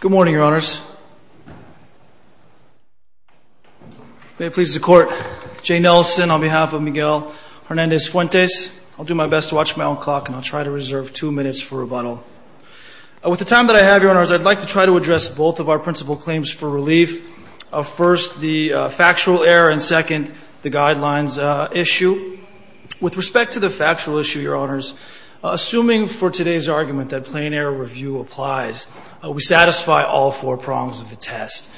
Good morning, your honors. May it please the court, Jay Nelson on behalf of Miguel Hernandez-Fuentes. I'll do my best to watch my own clock and I'll try to reserve two minutes for rebuttal. With the time that I have, your honors, I'd like to try to address both of our principal claims for relief. First, the factual error and second, the guidelines issue. With respect to the factual issue, your honors, assuming for today's argument that plain error review applies, we satisfy all four prongs of the test.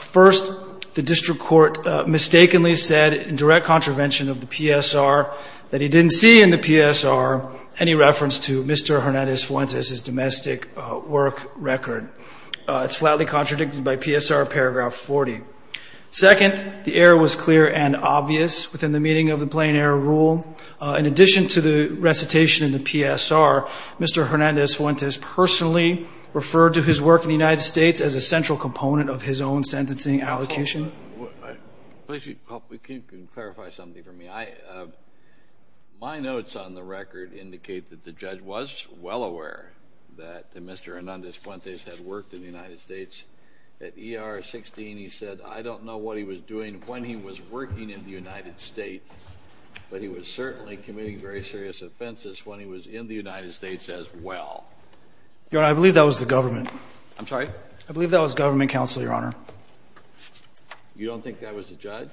First, the district court mistakenly said in direct contravention of the PSR that he didn't see in the PSR any reference to Mr. Hernandez-Fuentes' domestic work record. It's flatly contradicted by PSR paragraph 40. Second, the error was clear and obvious within the meaning of the recitation in the PSR, Mr. Hernandez-Fuentes personally referred to his work in the United States as a central component of his own sentencing allocation. Please help me. Can you clarify something for me? I my notes on the record indicate that the judge was well aware that Mr. Hernandez-Fuentes had worked in the United States. At E.R. 16, he said, I don't know what he was doing when he was working in the United States, but he was certainly committing very serious offenses when he was in the United States as well. Your honor, I believe that was the government. I'm sorry? I believe that was government counsel, your honor. You don't think that was the judge?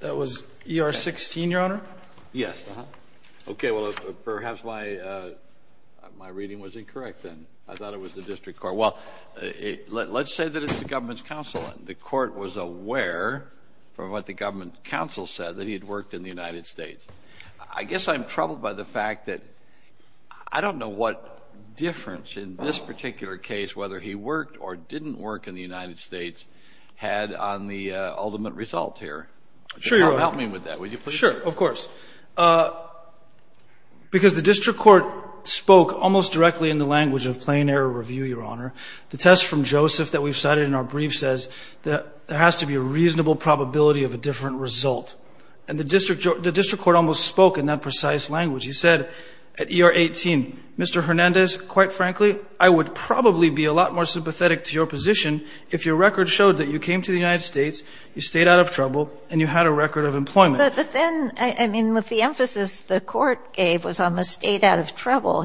That was E.R. 16, your honor? Yes. Uh-huh. Okay. Well, perhaps my reading was incorrect then. I thought it was the district court. Well, let's say that it's the government's counsel. The court was aware from what the government counsel said that he had worked in the United States. I guess I'm troubled by the fact that I don't know what difference in this particular case, whether he worked or didn't work in the United States, had on the ultimate result here. Sure, your honor. Help me with that, would you please? Sure, of course. Because the district court spoke almost directly in the language of plain error review, your honor. The test from Joseph that we've cited in our brief says that there has to be a reasonable probability of a different result. And the district court almost spoke in that precise language. He said at E.R. 18, Mr. Hernandez, quite frankly, I would probably be a lot more sympathetic to your position if your record showed that you came to the United States, you stayed out of trouble, and you had a record of employment. But then, I mean, with the emphasis the court gave was on the stayed out of trouble,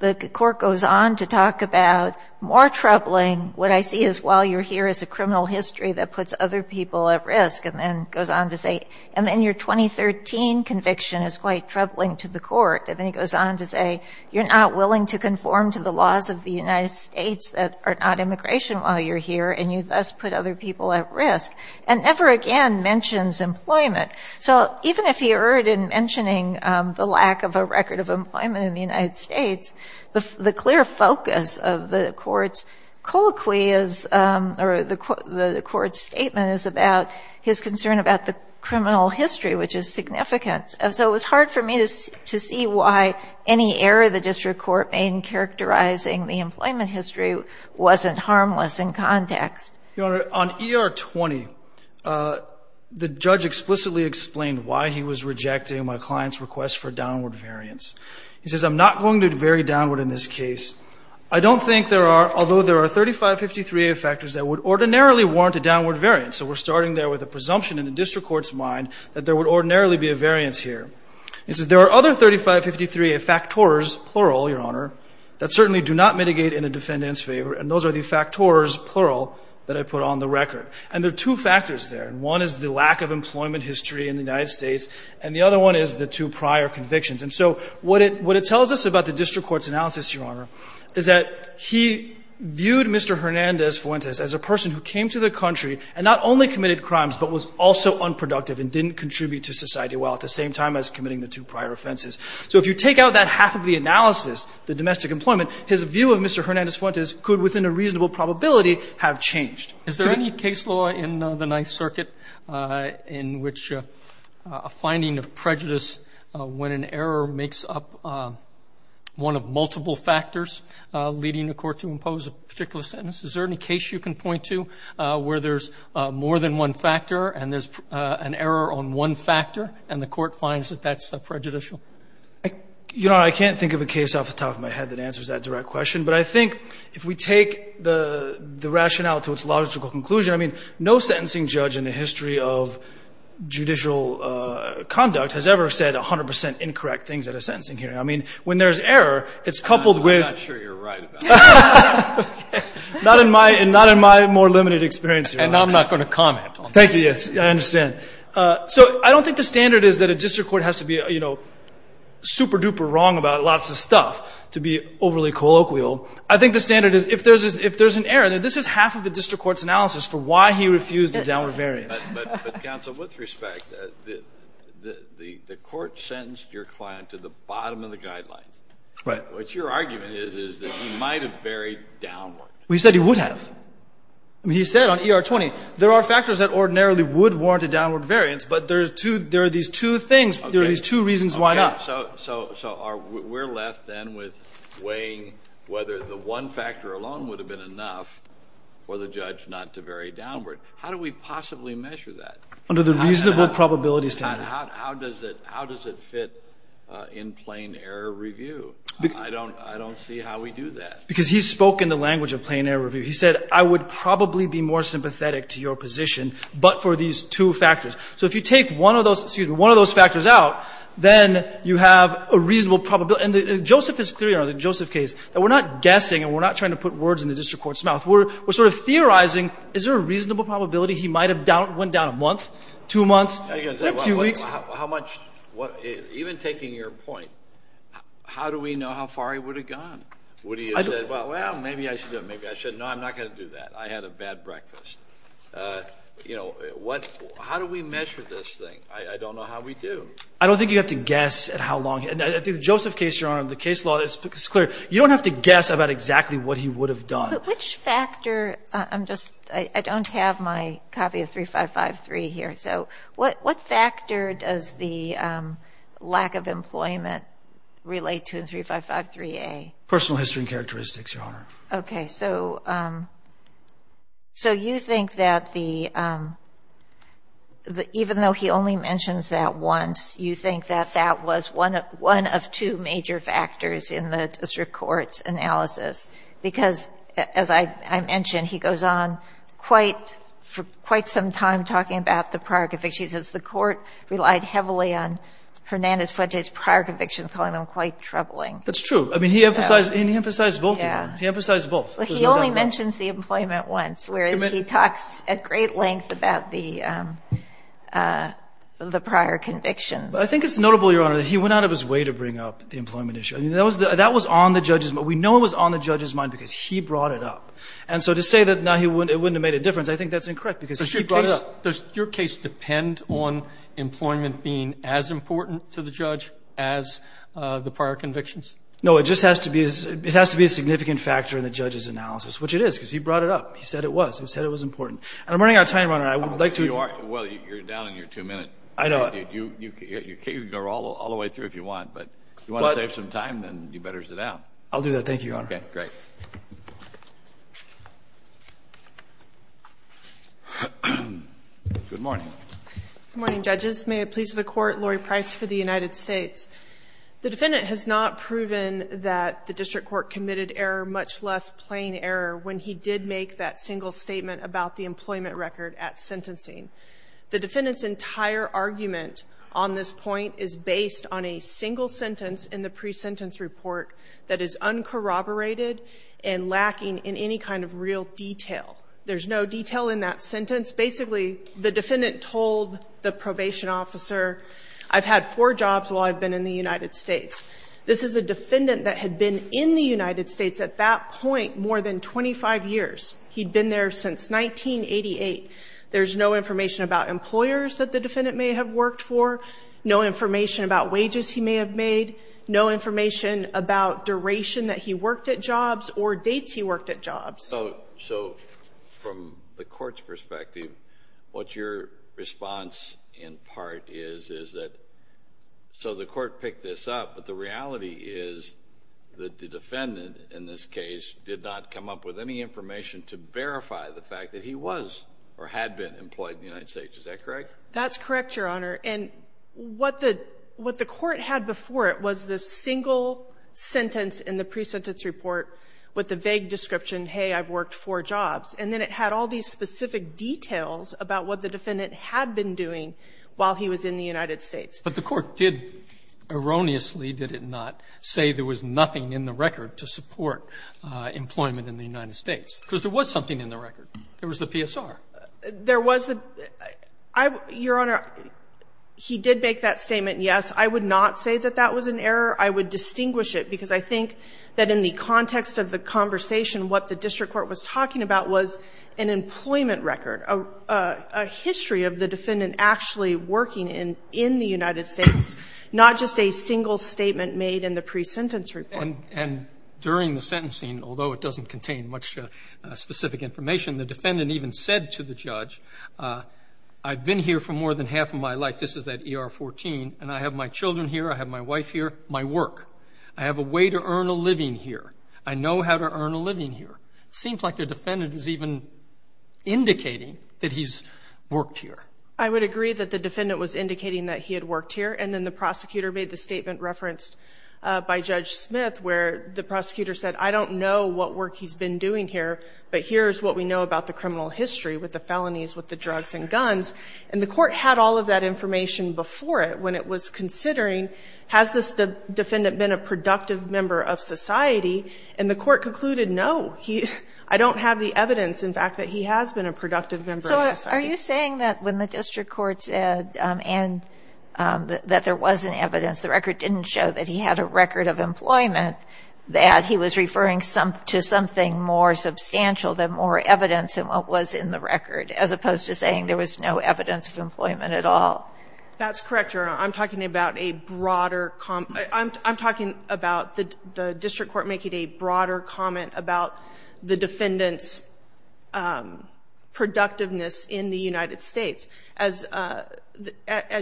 the court goes on to talk about more troubling, what I see is while you're here is a criminal history that puts other people at risk, and then goes on to say, and then your 2013 conviction is quite troubling to the court. And then he goes on to say, you're not willing to conform to the laws of the United States that are not immigration while you're here, and you thus put other people at risk. And never again mentions employment. So even if he erred in mentioning the lack of a record of the court's colloquy is, or the court's statement is about his concern about the criminal history, which is significant. So it was hard for me to see why any error the district court made in characterizing the employment history wasn't harmless in context. You know, on E.R. 20, the judge explicitly explained why he was rejecting my client's request for downward variance. He says, I'm not going to vary downward in this case. I don't think there are, although there are 3553A factors that would ordinarily warrant a downward variance. So we're starting there with a presumption in the district court's mind that there would ordinarily be a variance here. He says, there are other 3553A factors, plural, Your Honor, that certainly do not mitigate in the defendant's favor, and those are the factors, plural, that I put on the record. And there are two factors there. One is the lack of employment history in the United States, and the other one is the two prior convictions. And so what it tells us about the district court's analysis, Your Honor, is that he viewed Mr. Hernandez-Fuentes as a person who came to the country and not only committed crimes, but was also unproductive and didn't contribute to society while at the same time as committing the two prior offenses. So if you take out that half of the analysis, the domestic employment, his view of Mr. Hernandez-Fuentes could within a reasonable probability have changed. Is there any case law in the Ninth Circuit in which a finding of prejudice when an error makes up one of multiple factors leading a court to impose a particular sentence, is there any case you can point to where there's more than one factor and there's an error on one factor and the court finds that that's prejudicial? You know, I can't think of a case off the top of my head that answers that direct question, but I think if we take the rationale to its logical conclusion, I mean, no sentencing judge in the history of judicial conduct has ever said 100 percent incorrect things at a sentencing hearing. I mean, when there's error, it's coupled with... I'm not sure you're right about that. Not in my more limited experience, Your Honor. And I'm not going to comment on that. Thank you. Yes, I understand. So I don't think the standard is that a district court has to be, you know, super-duper wrong about lots of stuff to be overly colloquial. I think the standard is if there's an error, this is half of the district court's analysis for why he refused a downward variance. But, counsel, with respect, the court sentenced your client to the bottom of the guidelines. Right. What your argument is, is that he might have varied downward. Well, he said he would have. He said on ER-20, there are factors that ordinarily would warrant a downward variance, but there are these two things, there are these two reasons why not. Okay. So we're left then with weighing whether the one factor alone would have been enough for the judge not to vary downward. How do we possibly measure that? Under the reasonable probability standard. How does it fit in plain error review? I don't see how we do that. Because he spoke in the language of plain error review. He said, I would probably be more sympathetic to your position, but for these two factors. So if you take one of those, excuse me, one of those factors out, then you have a reasonable probability. And Joseph is clear on the Joseph case, that we're not guessing and we're not trying to put words in the district court's mouth. We're sort of theorizing, is there a reasonable probability he might have went down a month, two months, maybe a few weeks? How much, even taking your point, how do we know how far he would have gone? Would he have said, well, maybe I should do it, maybe I shouldn't. No, I'm not going to do that. I had a bad breakfast. You know, what — how do we measure this thing? I don't know how we do. I don't think you have to guess at how long. And I think the Joseph case, Your Honor, the case law is clear. You don't have to guess about exactly what he would have done. But which factor — I'm just — I don't have my copy of 3553 here. So what factor does the lack of employment relate to in 3553A? Personal history and characteristics, Your Honor. Okay. So you think that the — even though he only mentions that once, you think that that was one of two major factors in the district court's analysis? Because as I mentioned, he goes on quite — for quite some time talking about the prior convictions. He says the court relied heavily on Hernandez-Fuentes' prior convictions, calling them quite troubling. That's true. I mean, he emphasized — he emphasized both of them. He emphasized both. But he only mentions the employment once, whereas he talks at great length about the prior convictions. I think it's notable, Your Honor, that he went out of his way to bring up the employment issue. That was on the judge's — we know it was on the judge's mind because he brought it up. And so to say that now he wouldn't — it wouldn't have made a difference, I think that's incorrect because he brought it up. Does your case depend on employment being as important to the judge as the prior convictions No, it just has to be — it has to be a significant factor in the judge's analysis, which it is because he brought it up. He said it was. He said it was important. And I'm running out of time, Your Honor. I would like to — You are. Well, you're down in your two minutes. I know. You can go all the way through if you want. But if you want to save some time, then you better sit down. I'll do that. Thank you, Your Honor. Okay. Great. Good morning. Good morning, judges. May it please the Court, Lori Price for the United States. The defendant has not proven that the district court committed error, much less plain error, when he did make that single statement about the employment record at sentencing. The defendant's entire argument on this point is based on a single sentence in the pre-sentence report that is uncorroborated and lacking in any kind of real detail. There's no detail in that sentence. Basically, the defendant told the probation officer, I've had four jobs while I've been in the United States. This is a defendant that had been in the United States at that point more than 25 years. He'd been there since 1988. There's no information about employers that the defendant may have worked for, no information about wages he may have made, no information about duration that he worked at jobs or dates he worked at jobs. So from the Court's perspective, what your response in part is, is that so the Court picked this up, but the reality is that the defendant in this case did not come up with any information to verify the fact that he was or had been employed in the United States. Is that correct? That's correct, Your Honor. And what the Court had before it was the single sentence in the pre-sentence report with the vague description, hey, I've worked four jobs. And then it had all these specific details about what the defendant had been doing while he was in the United States. But the Court did, erroneously, did it not, say there was nothing in the record to support employment in the United States? Because there was something in the record. There was the PSR. There was the – Your Honor, he did make that statement, yes. I would not say that that was an error. I would distinguish it, because I think that in the context of the conversation, what the district court was talking about was an employment record, a history of the defendant actually working in the United States, not just a single statement made in the pre-sentence report. And during the sentencing, although it doesn't contain much specific information, the defendant even said to the judge, I've been here for more than half of my life, this is that ER-14, and I have my children here, I have my wife here, my work. I have a way to earn a living here. I know how to earn a living here. It seems like the defendant is even indicating that he's worked here. I would agree that the defendant was indicating that he had worked here. And then the prosecutor made the statement referenced by Judge Smith, where the prosecutor said, I don't know what work he's been doing here, but here's what we know about the criminal history with the felonies, with the drugs and guns. And the court had all of that information before it when it was considering, has this defendant been a productive member of society? And the court concluded, no, he — I don't have the evidence, in fact, that he has been a productive member of society. Kagan. So are you saying that when the district court said, and that there wasn't evidence, the record didn't show that he had a record of employment, that he was referring to something more substantial, that more evidence than what was in the record, as opposed to saying there was no evidence of employment at all? That's correct, Your Honor. I'm talking about a broader — I'm talking about the district court making a broader comment about the defendant's productiveness in the United States. As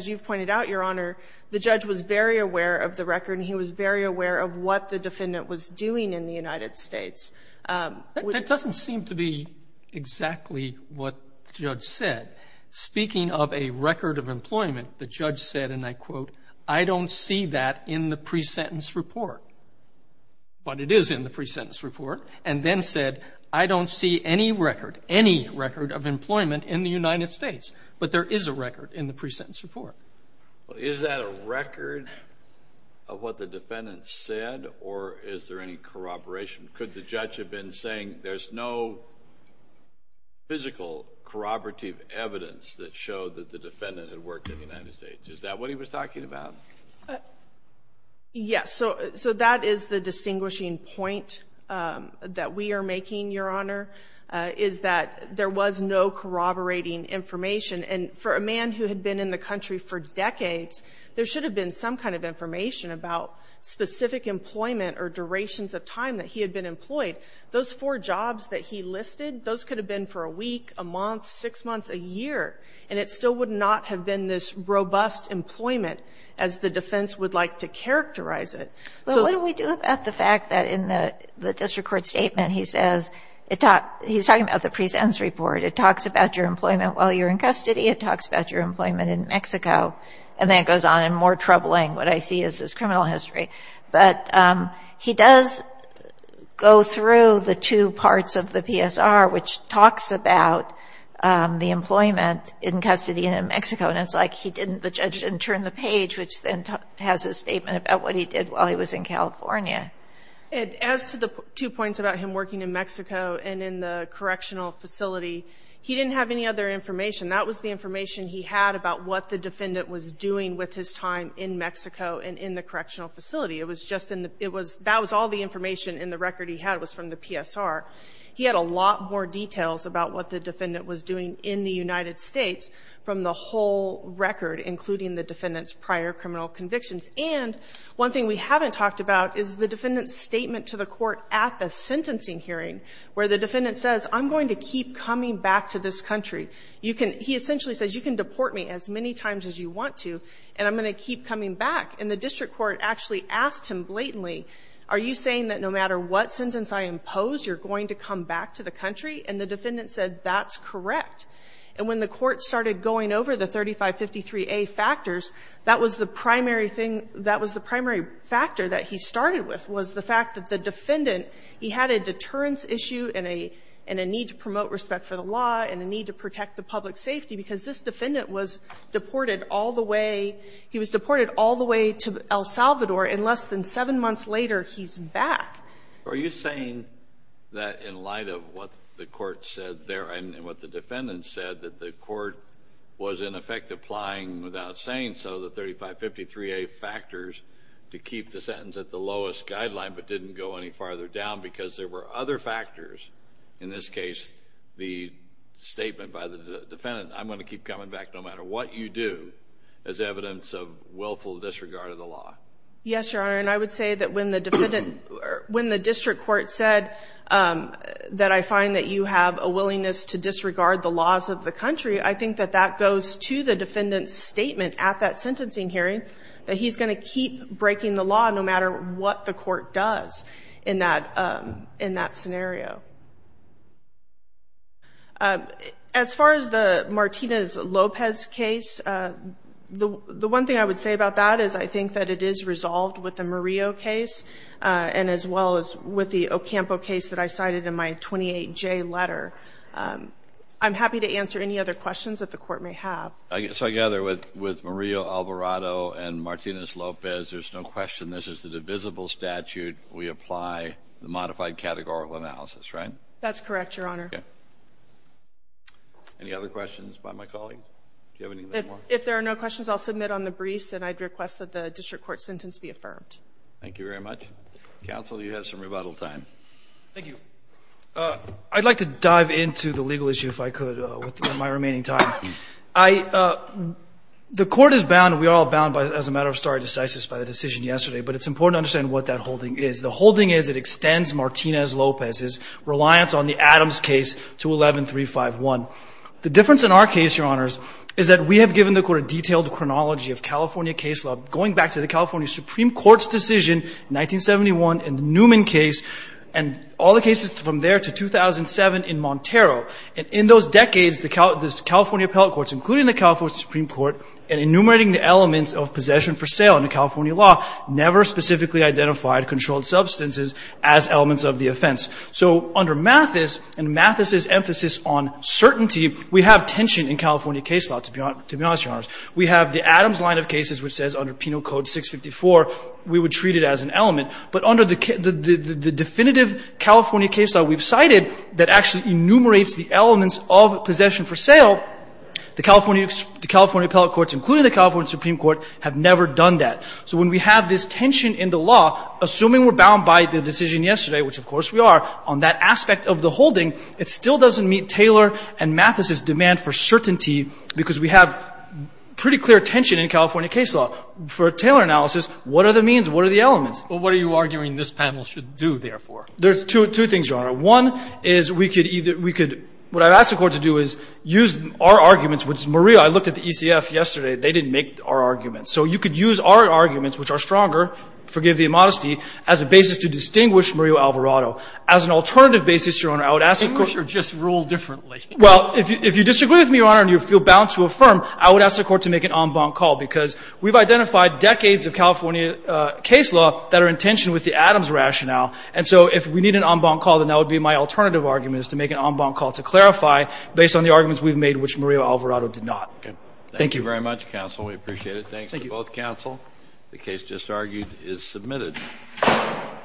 you've pointed out, Your Honor, the judge was very aware of the record and he was very aware of what the defendant was doing in the United States. That doesn't seem to be exactly what the judge said. Speaking of a record of employment, the judge said, and I quote, I don't see that in the pre-sentence report. But it is in the pre-sentence report. And then said, I don't see any record, any record of employment in the United States. But there is a record in the pre-sentence report. Well, is that a record of what the defendant said or is there any corroboration? Could the judge have been saying there's no physical corroborative evidence that showed that the defendant had worked in the United States? Is that what he was talking about? Yes. So, that is the distinguishing point that we are making, Your Honor, is that there was no corroborating information. And for a man who had been in the country for decades, there should have been some kind of information about specific employment or durations of time that he had been employed. Those four jobs that he listed, those could have been for a week, a month, six months, a year. And it still would not have been this robust employment as the defense would like to characterize it. Well, what do we do about the fact that in the district court statement, he says, he's talking about the pre-sentence report. It talks about your employment while you're in custody. It talks about your employment in Mexico. And then it goes on. And more troubling, what I see, is his criminal history. But he does go through the two parts of the PSR, which talks about the employment in custody in Mexico. And it's like he didn't, the judge didn't turn the page, which then has a statement about what he did while he was in California. As to the two points about him working in Mexico and in the correctional facility, he didn't have any other information. That was the information he had about what the defendant was doing with his time in Mexico and in the correctional facility. It was just in the, it was, that was all the information in the record he had was from the PSR. He had a lot more details about what the defendant was doing in the United States from the whole record, including the defendant's prior criminal convictions. And one thing we haven't talked about is the defendant's statement to the court at the sentencing hearing, where the defendant says, I'm going to keep coming back to this country. You can, he essentially says, you can deport me as many times as you want to, and I'm going to keep coming back. And the district court actually asked him blatantly, are you saying that no matter what sentence I impose, you're going to come back to the country? And the defendant said, that's correct. And when the court started going over the 3553A factors, that was the primary thing, that was the primary factor that he started with was the fact that the defendant, he had a deterrence issue, and a need to promote respect for the law, and a need to protect the public safety, because this defendant was deported all the way, he was deported all the way to El Salvador, and less than seven months later, he's back. Are you saying that in light of what the court said there, and what the defendant said, that the court was in effect applying without saying so the 3553A factors to keep the sentence at the lowest guideline, but didn't go any farther down because there were other factors, in this case, the statement by the defendant, I'm going to keep coming back no matter what you do, as evidence of willful disregard of the law? Yes, Your Honor, and I would say that when the defendant, when the district court said that I find that you have a willingness to disregard the laws of the country, I think that that goes to the defendant's statement at that sentencing hearing, that he's going to keep breaking the law no matter what the court does in that scenario. As far as the Martinez-Lopez case, the one thing I would say about that is I think that it is resolved with the Murillo case, and as well as with the Ocampo case that I cited in my 28J letter. I'm happy to answer any other questions that the court may have. So I gather with Murillo, Alvarado, and Martinez-Lopez, there's no question this is the divisible statute. We apply the modified categorical analysis, right? That's correct, Your Honor. Okay. Any other questions by my colleague? Do you have anything more? If there are no questions, I'll submit on the briefs, and I'd request that the district court sentence be affirmed. Thank you very much. Counsel, you have some rebuttal time. Thank you. I'd like to dive into the legal issue, if I could, with my remaining time. The court is bound, we are all bound as a matter of stare decisis by the decision yesterday, but it's important to understand what that holding is. The holding is it extends Martinez-Lopez's reliance on the Adams case to 11351. The difference in our case, Your Honors, is that we have given the court a detailed chronology of California case law, going back to the California Supreme Court's decision in 1971 and the Newman case, and all the cases from there to 2007 in Montero. In those decades, the California appellate courts, including the California Supreme Court, and enumerating the elements of possession for sale under California law, never specifically identified controlled substances as elements of the offense. So under Mathis, and Mathis's emphasis on certainty, we have tension in California case law, to be honest, Your Honors. We have the Adams line of cases, which says under Penal Code 654, we would treat it as an element. But under the definitive California case law we've cited, that actually enumerates the elements of possession for sale, the California appellate courts, including the California Supreme Court, have never done that. So when we have this tension in the law, assuming we're bound by the decision yesterday, which of course we are, on that aspect of the holding, it still doesn't meet Taylor and Mathis's demand for certainty, because we have pretty clear tension in California case law. For Taylor analysis, what are the means? What are the elements? Well, what are you arguing this panel should do, therefore? There's two things, Your Honor. One is we could either we could, what I've asked the Court to do is use our arguments, which Maria, I looked at the ECF yesterday, they didn't make our arguments. So you could use our arguments, which are stronger, forgive the immodesty, as a basis to distinguish Maria Alvarado. As an alternative basis, Your Honor, I would ask the Court to Distinguish or just rule differently? Well, if you disagree with me, Your Honor, and you feel bound to affirm, I would ask the Court to make an en banc call, because we've identified decades of California case law that are in tension with the Adams rationale. And so if we need an en banc call, then that would be my alternative argument, is to make an en banc call to clarify based on the arguments we've made, which Maria Alvarado did not. Thank you very much, counsel. We appreciate it. Thanks to both counsel. The case just argued is submitted.